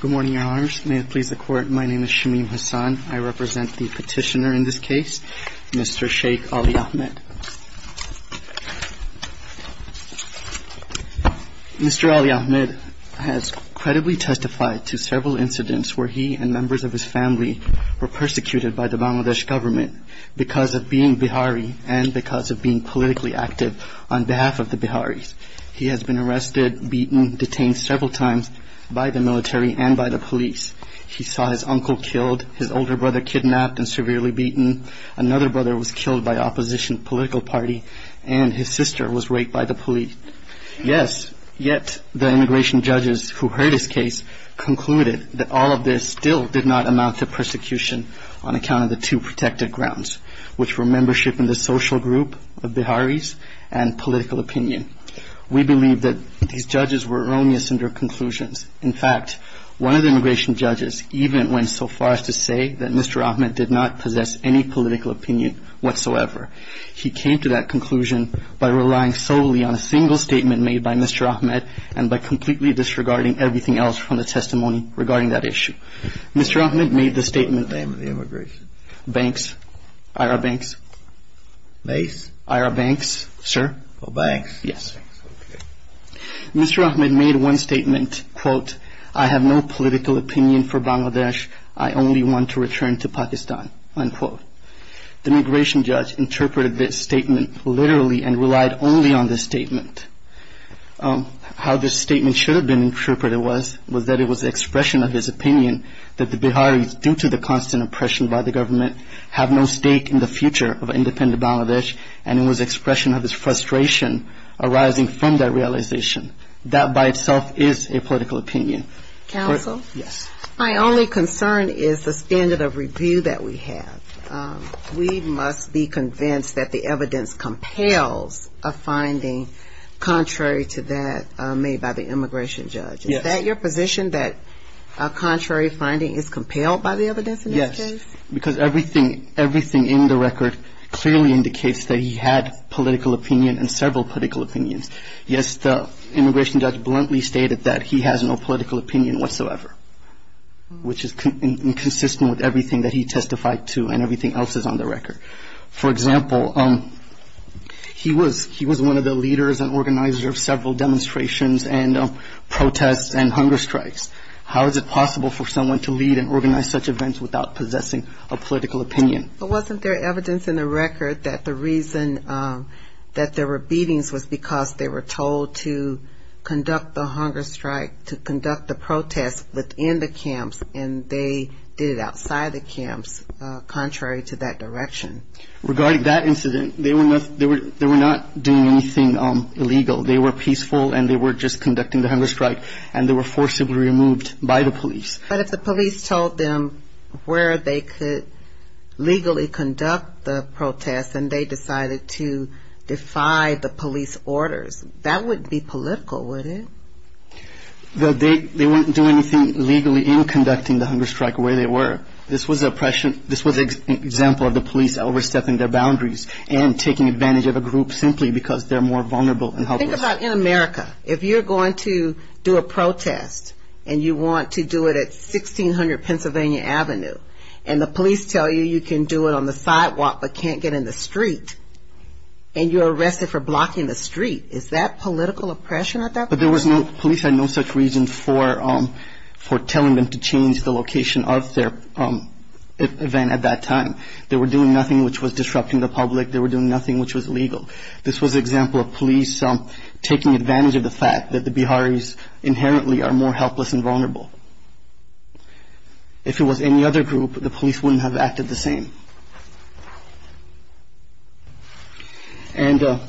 Good morning, Your Honors. May it please the Court, my name is Shamim Hassan. I represent the petitioner in this case, Mr. Sheikh Ali Ahmed. Mr. Ali Ahmed has credibly testified to several incidents where he and members of his family were persecuted by the Bangladesh government because of being Bihari and because of being politically active on behalf of the by the military and by the police. He saw his uncle killed, his older brother kidnapped and severely beaten, another brother was killed by opposition political party, and his sister was raped by the police. Yes, yet the immigration judges who heard his case concluded that all of this still did not amount to persecution on account of the two protected grounds, which were membership in the social group of Biharis and political opinion. We believe that these In fact, one of the immigration judges even went so far as to say that Mr. Ahmed did not possess any political opinion whatsoever. He came to that conclusion by relying solely on a single statement made by Mr. Ahmed and by completely disregarding everything else from the testimony regarding that issue. Mr. Ahmed made the statement... Name of the immigration? Banks, IRA Banks. Banks? IRA Banks, sir. Oh, banks. Yes. Okay. Mr. Ahmed made one statement, quote, I have no political opinion for Bangladesh. I only want to return to Pakistan, unquote. The immigration judge interpreted this statement literally and relied only on this statement. How this statement should have been interpreted was was that it was the expression of his opinion that the Biharis, due to the constant oppression by the government, have no stake in the future of independent Bangladesh. And it was expression of his frustration arising from that realization. That by itself is a political opinion. Counsel? Yes. My only concern is the standard of review that we have. We must be convinced that the evidence compels a finding contrary to that made by the immigration judge. Is that your position that a contrary finding is compelled by the evidence in this case? Because everything in the record clearly indicates that he had political opinion and several political opinions. Yes, the immigration judge bluntly stated that he has no political opinion whatsoever, which is inconsistent with everything that he testified to and everything else is on the record. For example, he was one of the leaders and organizers of several demonstrations and protests and hunger strikes. How is it possible for someone to lead and organize such events without possessing a political opinion? But wasn't there evidence in the record that the reason that there were beatings was because they were told to conduct the hunger strike, to conduct the protest within the camps and they did it outside the camps, contrary to that direction? Regarding that incident, they were not doing anything illegal. They were peaceful and they were just conducting the hunger strike and they were forcibly removed by the police. But if the police told them where they could legally conduct the protest and they decided to defy the police orders, that wouldn't be political, would it? They wouldn't do anything legally in conducting the hunger strike where they were. This was an example of the police overstepping their boundaries and taking advantage of a group simply because they're more vulnerable and helpless. Think about in America. If you're going to do a protest and you want to do it at 1600 Pennsylvania Avenue and the police tell you you can do it on the sidewalk but can't get in the street and you're arrested for blocking the street, is that political oppression at that point? But the police had no such reason for telling them to change the location of their event at that time. They were doing nothing which was disrupting the public. They were doing nothing which was illegal. This was an example of police taking advantage of the fact that the Biharis inherently are more helpless and vulnerable. If it was any other group, the police wouldn't have acted the same. And in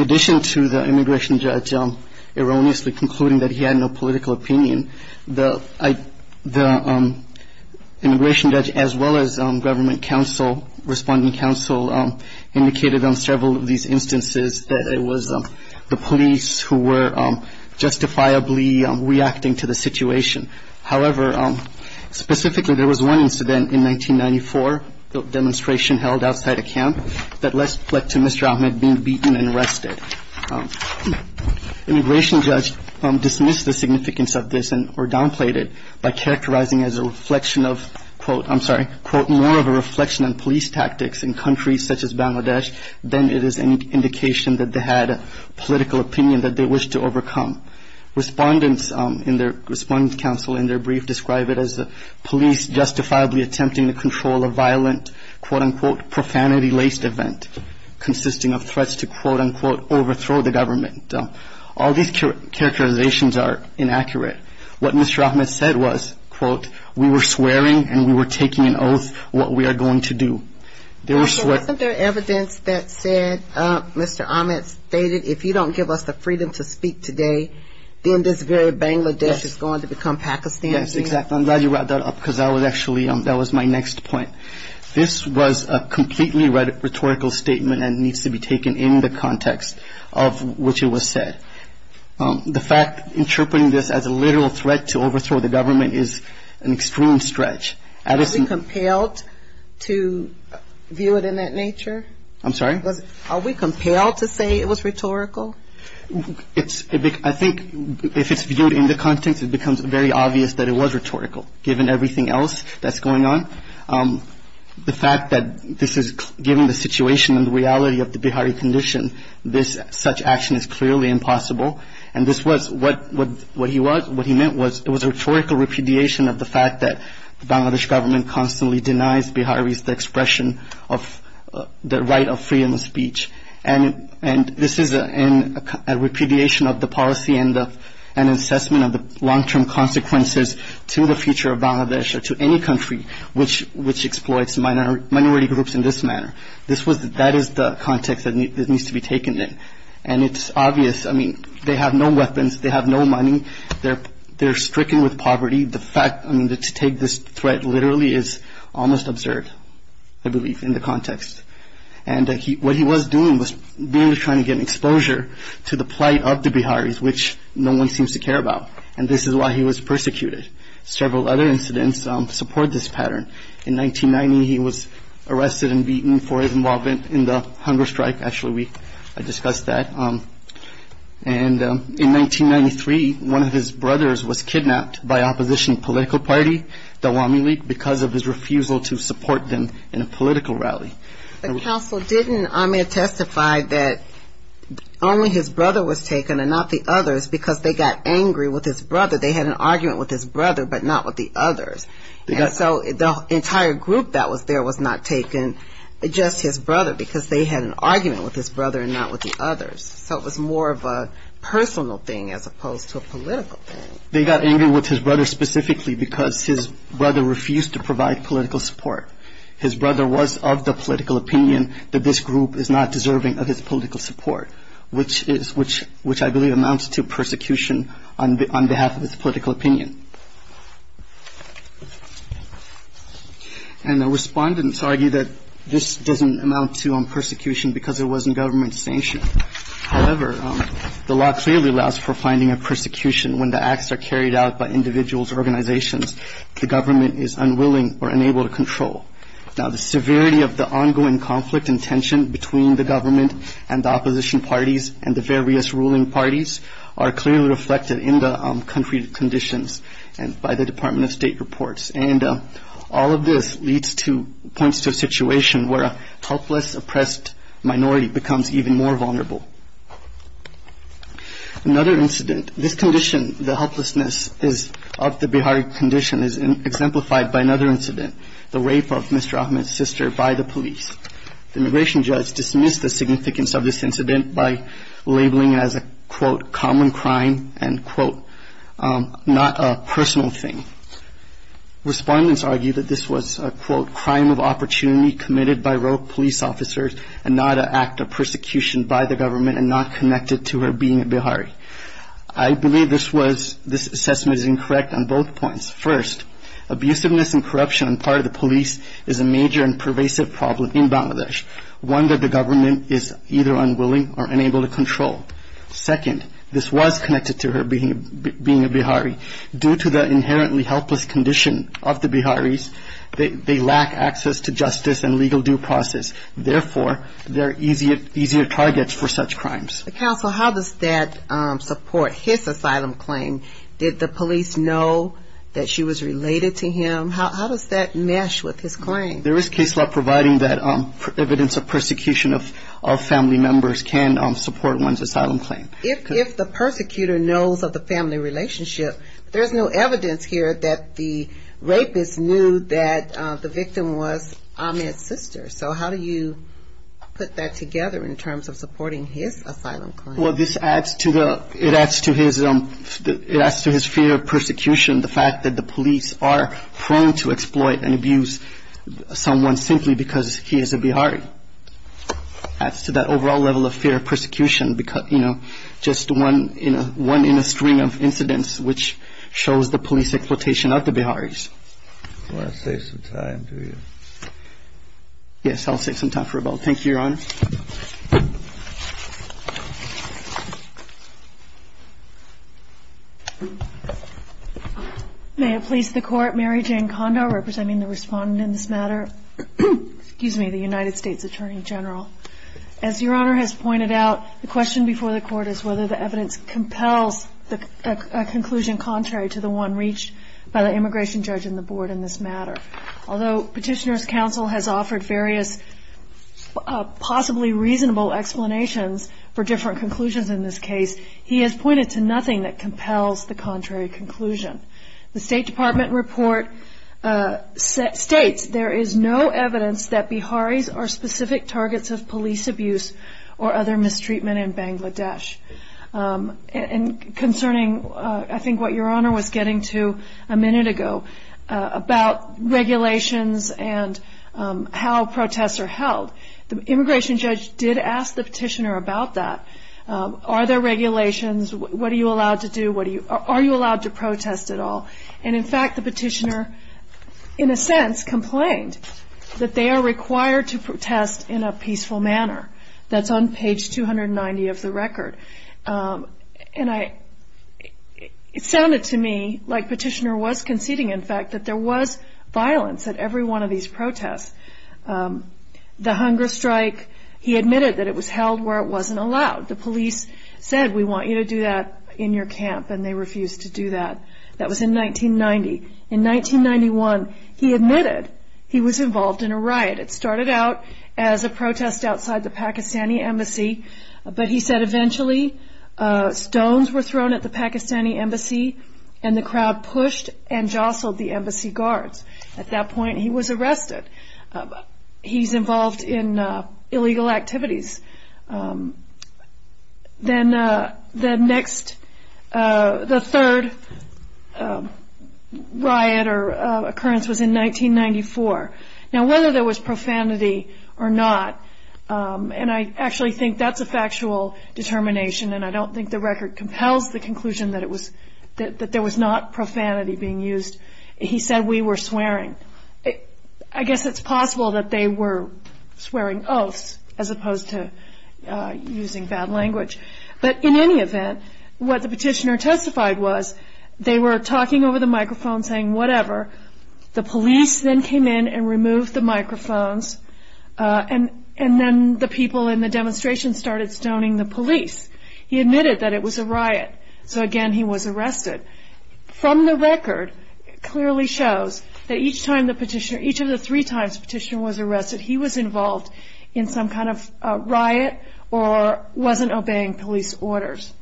addition to the immigration judge erroneously concluding that he had no political opinion, the immigration judge as well as government counsel, responding counsel, indicated on several of these instances that it was the police who were justifiably reacting to the situation. However, specifically there was one incident in 1994, a demonstration held outside a camp that led to Mr. Ahmed being beaten and arrested. Immigration judge dismissed the significance of this or downplayed it by characterizing as a reflection of, quote, I'm sorry, quote, more of a reflection on police tactics in countries such as Bangladesh than it is an indication that they had a political opinion that they wished to overcome. Respondents in their, responding counsel in their brief describe it as the police justifiably attempting to control a violent, quote-unquote, profanity-laced event, consisting of threats to, quote-unquote, overthrow the government. All these characterizations are inaccurate. What Mr. Ahmed said was, quote, we were swearing and we were taking an oath what we are going to do. There was swearing. Wasn't there evidence that said Mr. Ahmed stated if you don't give us the freedom to speak today, then this very Bangladesh is going to become Pakistan. Yes, exactly. I'm glad you brought that up, because that was actually, that was my next point. This was a completely rhetorical statement and needs to be taken in the context of which it was said. The fact interpreting this as a literal threat to overthrow the government is an extreme stretch. Are we compelled to view it in that nature? I'm sorry? Are we compelled to say it was rhetorical? I think if it's viewed in the context, it becomes very obvious that it was rhetorical, given everything else that's going on. The fact that this is, given the situation and the reality of the Bihari condition, this, such action is clearly impossible. And this was, what he meant was, it was rhetorical repudiation of the fact that the Bangladesh government constantly denies Biharis the expression of, the right of freedom of speech. And this is a repudiation of the policy and an assessment of the long-term consequences to the future of Bangladesh or to any country which exploits minority groups in this manner. That is the context that needs to be taken in. And it's obvious, I mean, they have no weapons, they have no money, they're just trying to take this threat literally is almost absurd, I believe, in the context. And what he was doing was mainly trying to get an exposure to the plight of the Biharis, which no one seems to care about. And this is why he was persecuted. Several other incidents support this pattern. In 1990, he was arrested and beaten for his involvement in the hunger strike. Actually, we discussed that. And in 1993, one of his brothers was kidnapped by opposition political party, the Wamili, because of his refusal to support them in a political rally. The council didn't testify that only his brother was taken and not the others, because they got angry with his brother. They had an argument with his brother, but not with the others. And so the entire group that was there was not taken, just his brother, because they had an argument with his brother and not the others. So it was more of a personal thing as opposed to a political thing. They got angry with his brother specifically because his brother refused to provide political support. His brother was of the political opinion that this group is not deserving of his political support, which I believe amounts to persecution on behalf of his political opinion. And the respondents argue that this doesn't amount to persecution because there wasn't government sanction. However, the law clearly allows for finding a persecution when the acts are carried out by individuals or organizations the government is unwilling or unable to control. Now, the severity of the ongoing conflict and tension between the government and the opposition parties and the various ruling parties are clearly reflected in the country conditions by the Department of State reports. And all of this leads to, points to a situation where a helpless, oppressed minority becomes even more vulnerable. Another incident, this condition, the helplessness of the Bihari condition is exemplified by another incident, the rape of Mr. Ahmed's sister by the police. The immigration judge dismissed the significance of this incident by labeling it as a, quote, common crime and, quote, not a personal thing. Respondents argue that this was, quote, crime of opportunity committed by rogue police officers and not an act of persecution by the government. And the second point is that this was not connected to her being a Bihari. I believe this was, this assessment is incorrect on both points. First, abusiveness and corruption on part of the police is a major and pervasive problem in Bangladesh, one that the government is either unwilling or unable to control. Second, this was connected to her being a Bihari. Due to the inherently helpless condition of the Biharis, they lack access to justice and legal due process. Therefore, they're easier targets for such crimes. Counsel, how does that support his asylum claim? Did the police know that she was related to him? How does that mesh with his claim? There is case law providing that evidence of persecution of family members can support one's asylum claim. If the persecutor knows of the family relationship, there's no evidence here that the rapist knew that the victim was Ahmed's sister. So how do you put that together in terms of supporting his asylum claim? Well, this adds to the, it adds to his, it adds to his fear of persecution. The fact that the police are prone to exploit and abuse someone simply because he is a Bihari. Adds to that overall level of fear of persecution because, you know, just one in a, one in a string of incidents, which shows the police exploitation of the Biharis. You want to save some time, do you? Yes, I'll save some time for rebuttal. Thank you, Your Honor. May it please the Court, Mary Jane Kondo representing the respondent in this matter. Excuse me, the United States Attorney General. As Your Honor has pointed out, the question before the Court is whether the evidence compels a conclusion contrary to the one reached by the immigration judge and the board in this matter. Although Petitioner's Counsel has offered various possibly reasonable explanations for different conclusions in this case, he has pointed to nothing that compels the contrary conclusion. The State Department report states there is no evidence that Biharis are specific targets of police abuse or other mistreatment in Bangladesh. And concerning, I think what Your Honor was getting to a minute ago about regulations and how protests are held, the immigration judge did ask the Petitioner about that. Are there regulations? What are you allowed to do? Are you allowed to protest at all? And in fact, the Petitioner, in a sense, complained that they are required to protest in a peaceful manner. That's on page 290 of the record. And it sounded to me like Petitioner was conceding, in fact, that there was violence at every one of these protests. The hunger strike, he admitted that it was held where it wasn't allowed. The police said, we want you to do that in your camp, and they refused to do that. That was in 1990. In 1991, he admitted he was involved in a riot. It started out as a protest outside the Pakistani embassy, but he said eventually stones were thrown at the Pakistani embassy and the crowd pushed and jostled the embassy guards. At that point, he was arrested. He's involved in illegal activities. Then the next, the third riot or occurrence was in 1994. Now, whether there was profanity or not, and I actually think that's a factual determination, and I don't think the record compels the conclusion that there was not profanity being used. He said, we were swearing. I guess it's possible that they were swearing oaths as opposed to using bad language. But in any event, what the Petitioner testified was, they were talking over the microphone saying whatever. The police then came in and removed the microphones, and then the people in the demonstration started stoning the police. He admitted that it was a riot, so again, he was arrested. From the record, it clearly shows that each of the three times the Petitioner was arrested, he was involved in some kind of riot or wasn't obeying police orders.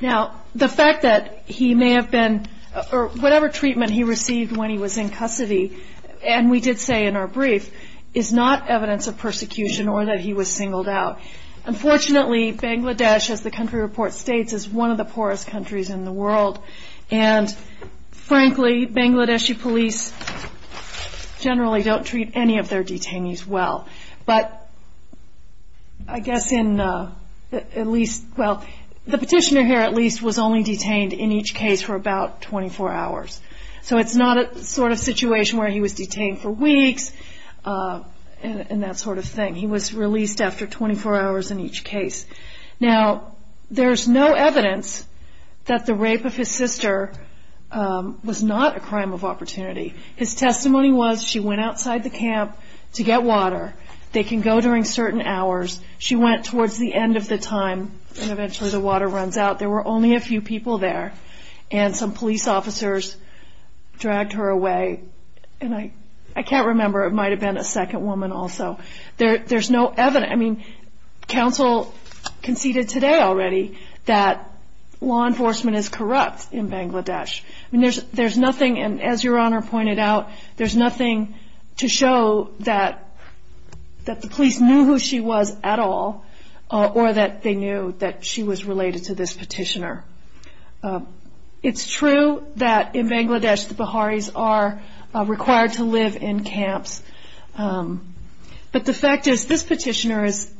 Now, the fact that he may have been, or whatever treatment he received when he was in custody, and we did say in our brief, is not evidence of persecution or that he was singled out. Unfortunately, Bangladesh, as the country report states, is one of the poorest countries in the world, and frankly, Bangladeshi police generally don't treat any of their detainees well. But I guess in at least, well, the Petitioner here at least was only detained in each case for about 24 hours. So it's not a sort of situation where he was detained for weeks and that sort of thing. He was released after 24 hours in each case. Now, there's no evidence that the rape of his sister was not a crime of opportunity. His testimony was she went outside the camp to get water. They can go during certain hours. She went towards the end of the time, and eventually the water runs out. There were only a few people there, and some police officers dragged her away. And I can't remember. It might have been a second woman also. There's no evidence. I mean, counsel conceded today already that law enforcement is corrupt in Bangladesh. I mean, there's nothing, and as Your Honor pointed out, there's nothing to show that the police knew who she was at all, or that they knew that she was related to this Petitioner. It's true that in Bangladesh, the Biharis are required to live in camps. But the fact is this Petitioner has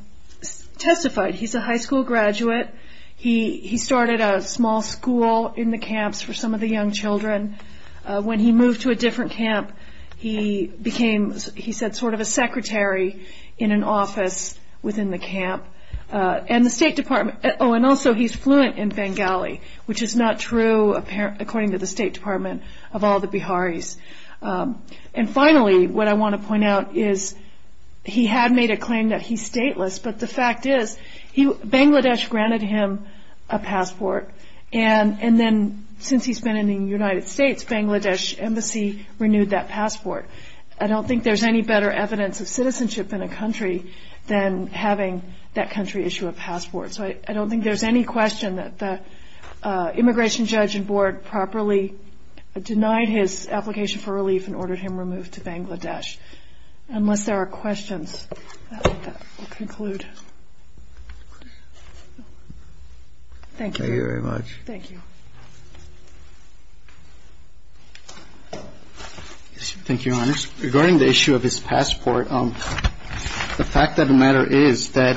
testified. He's a high school graduate. He started a small school in the camps for some of the young children. When he moved to a different camp, he became, he said, sort of a secretary in an office within the camp. And the State Department, oh, and also he's fluent in Bengali, which is not true, according to the State Department, of all the Biharis. And finally, what I want to point out is he had made a claim that he's stateless, but the fact is Bangladesh granted him a passport, and then since he's been in the United States, Bangladesh Embassy renewed that passport. I don't think there's any better evidence of citizenship in a country than having that country issue a passport. So I don't think there's any question that the immigration judge and board properly denied his application for relief and ordered him removed to Bangladesh, unless there are questions. I think that will conclude. Thank you. Thank you very much. Thank you. Thank you, Your Honors. Regarding the issue of his passport, the fact of the matter is that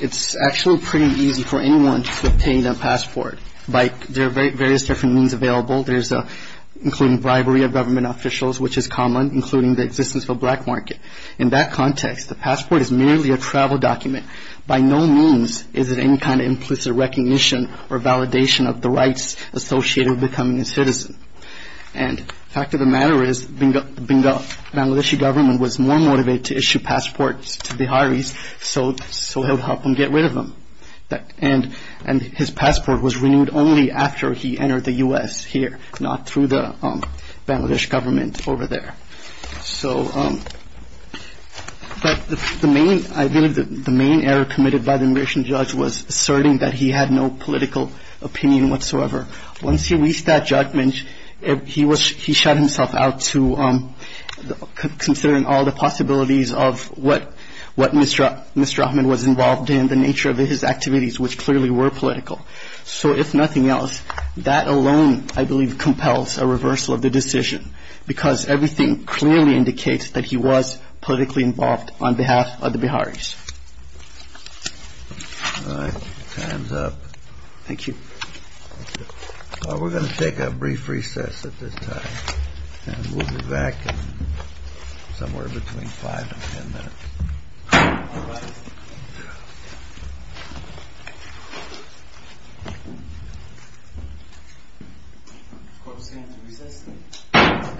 it's actually pretty easy for anyone to obtain a passport. There are various different means available. There's including bribery of government officials, which is common, including the existence of a black market. In that context, the passport is merely a travel document. By no means is it any kind of implicit recognition or validation of the rights associated with becoming a citizen. And the fact of the matter is the Bangladeshi government was more motivated to issue passports to Biharis so it would help them get rid of them. And his passport was renewed only after he entered the U.S. here, if not through the Bangladesh government over there. But I believe the main error committed by the immigration judge was asserting that he had no political opinion whatsoever. Once he reached that judgment, he shut himself out to considering all the possibilities of what Mr. Ahmed was involved in, the nature of his activities, which clearly were political. So if nothing else, that alone, I believe, compels a reversal of the decision because everything clearly indicates that he was politically involved on behalf of the Biharis. All right. Time's up. Thank you. We're going to take a brief recess at this time. And we'll be back somewhere between five and ten minutes. Of course, we have to recess.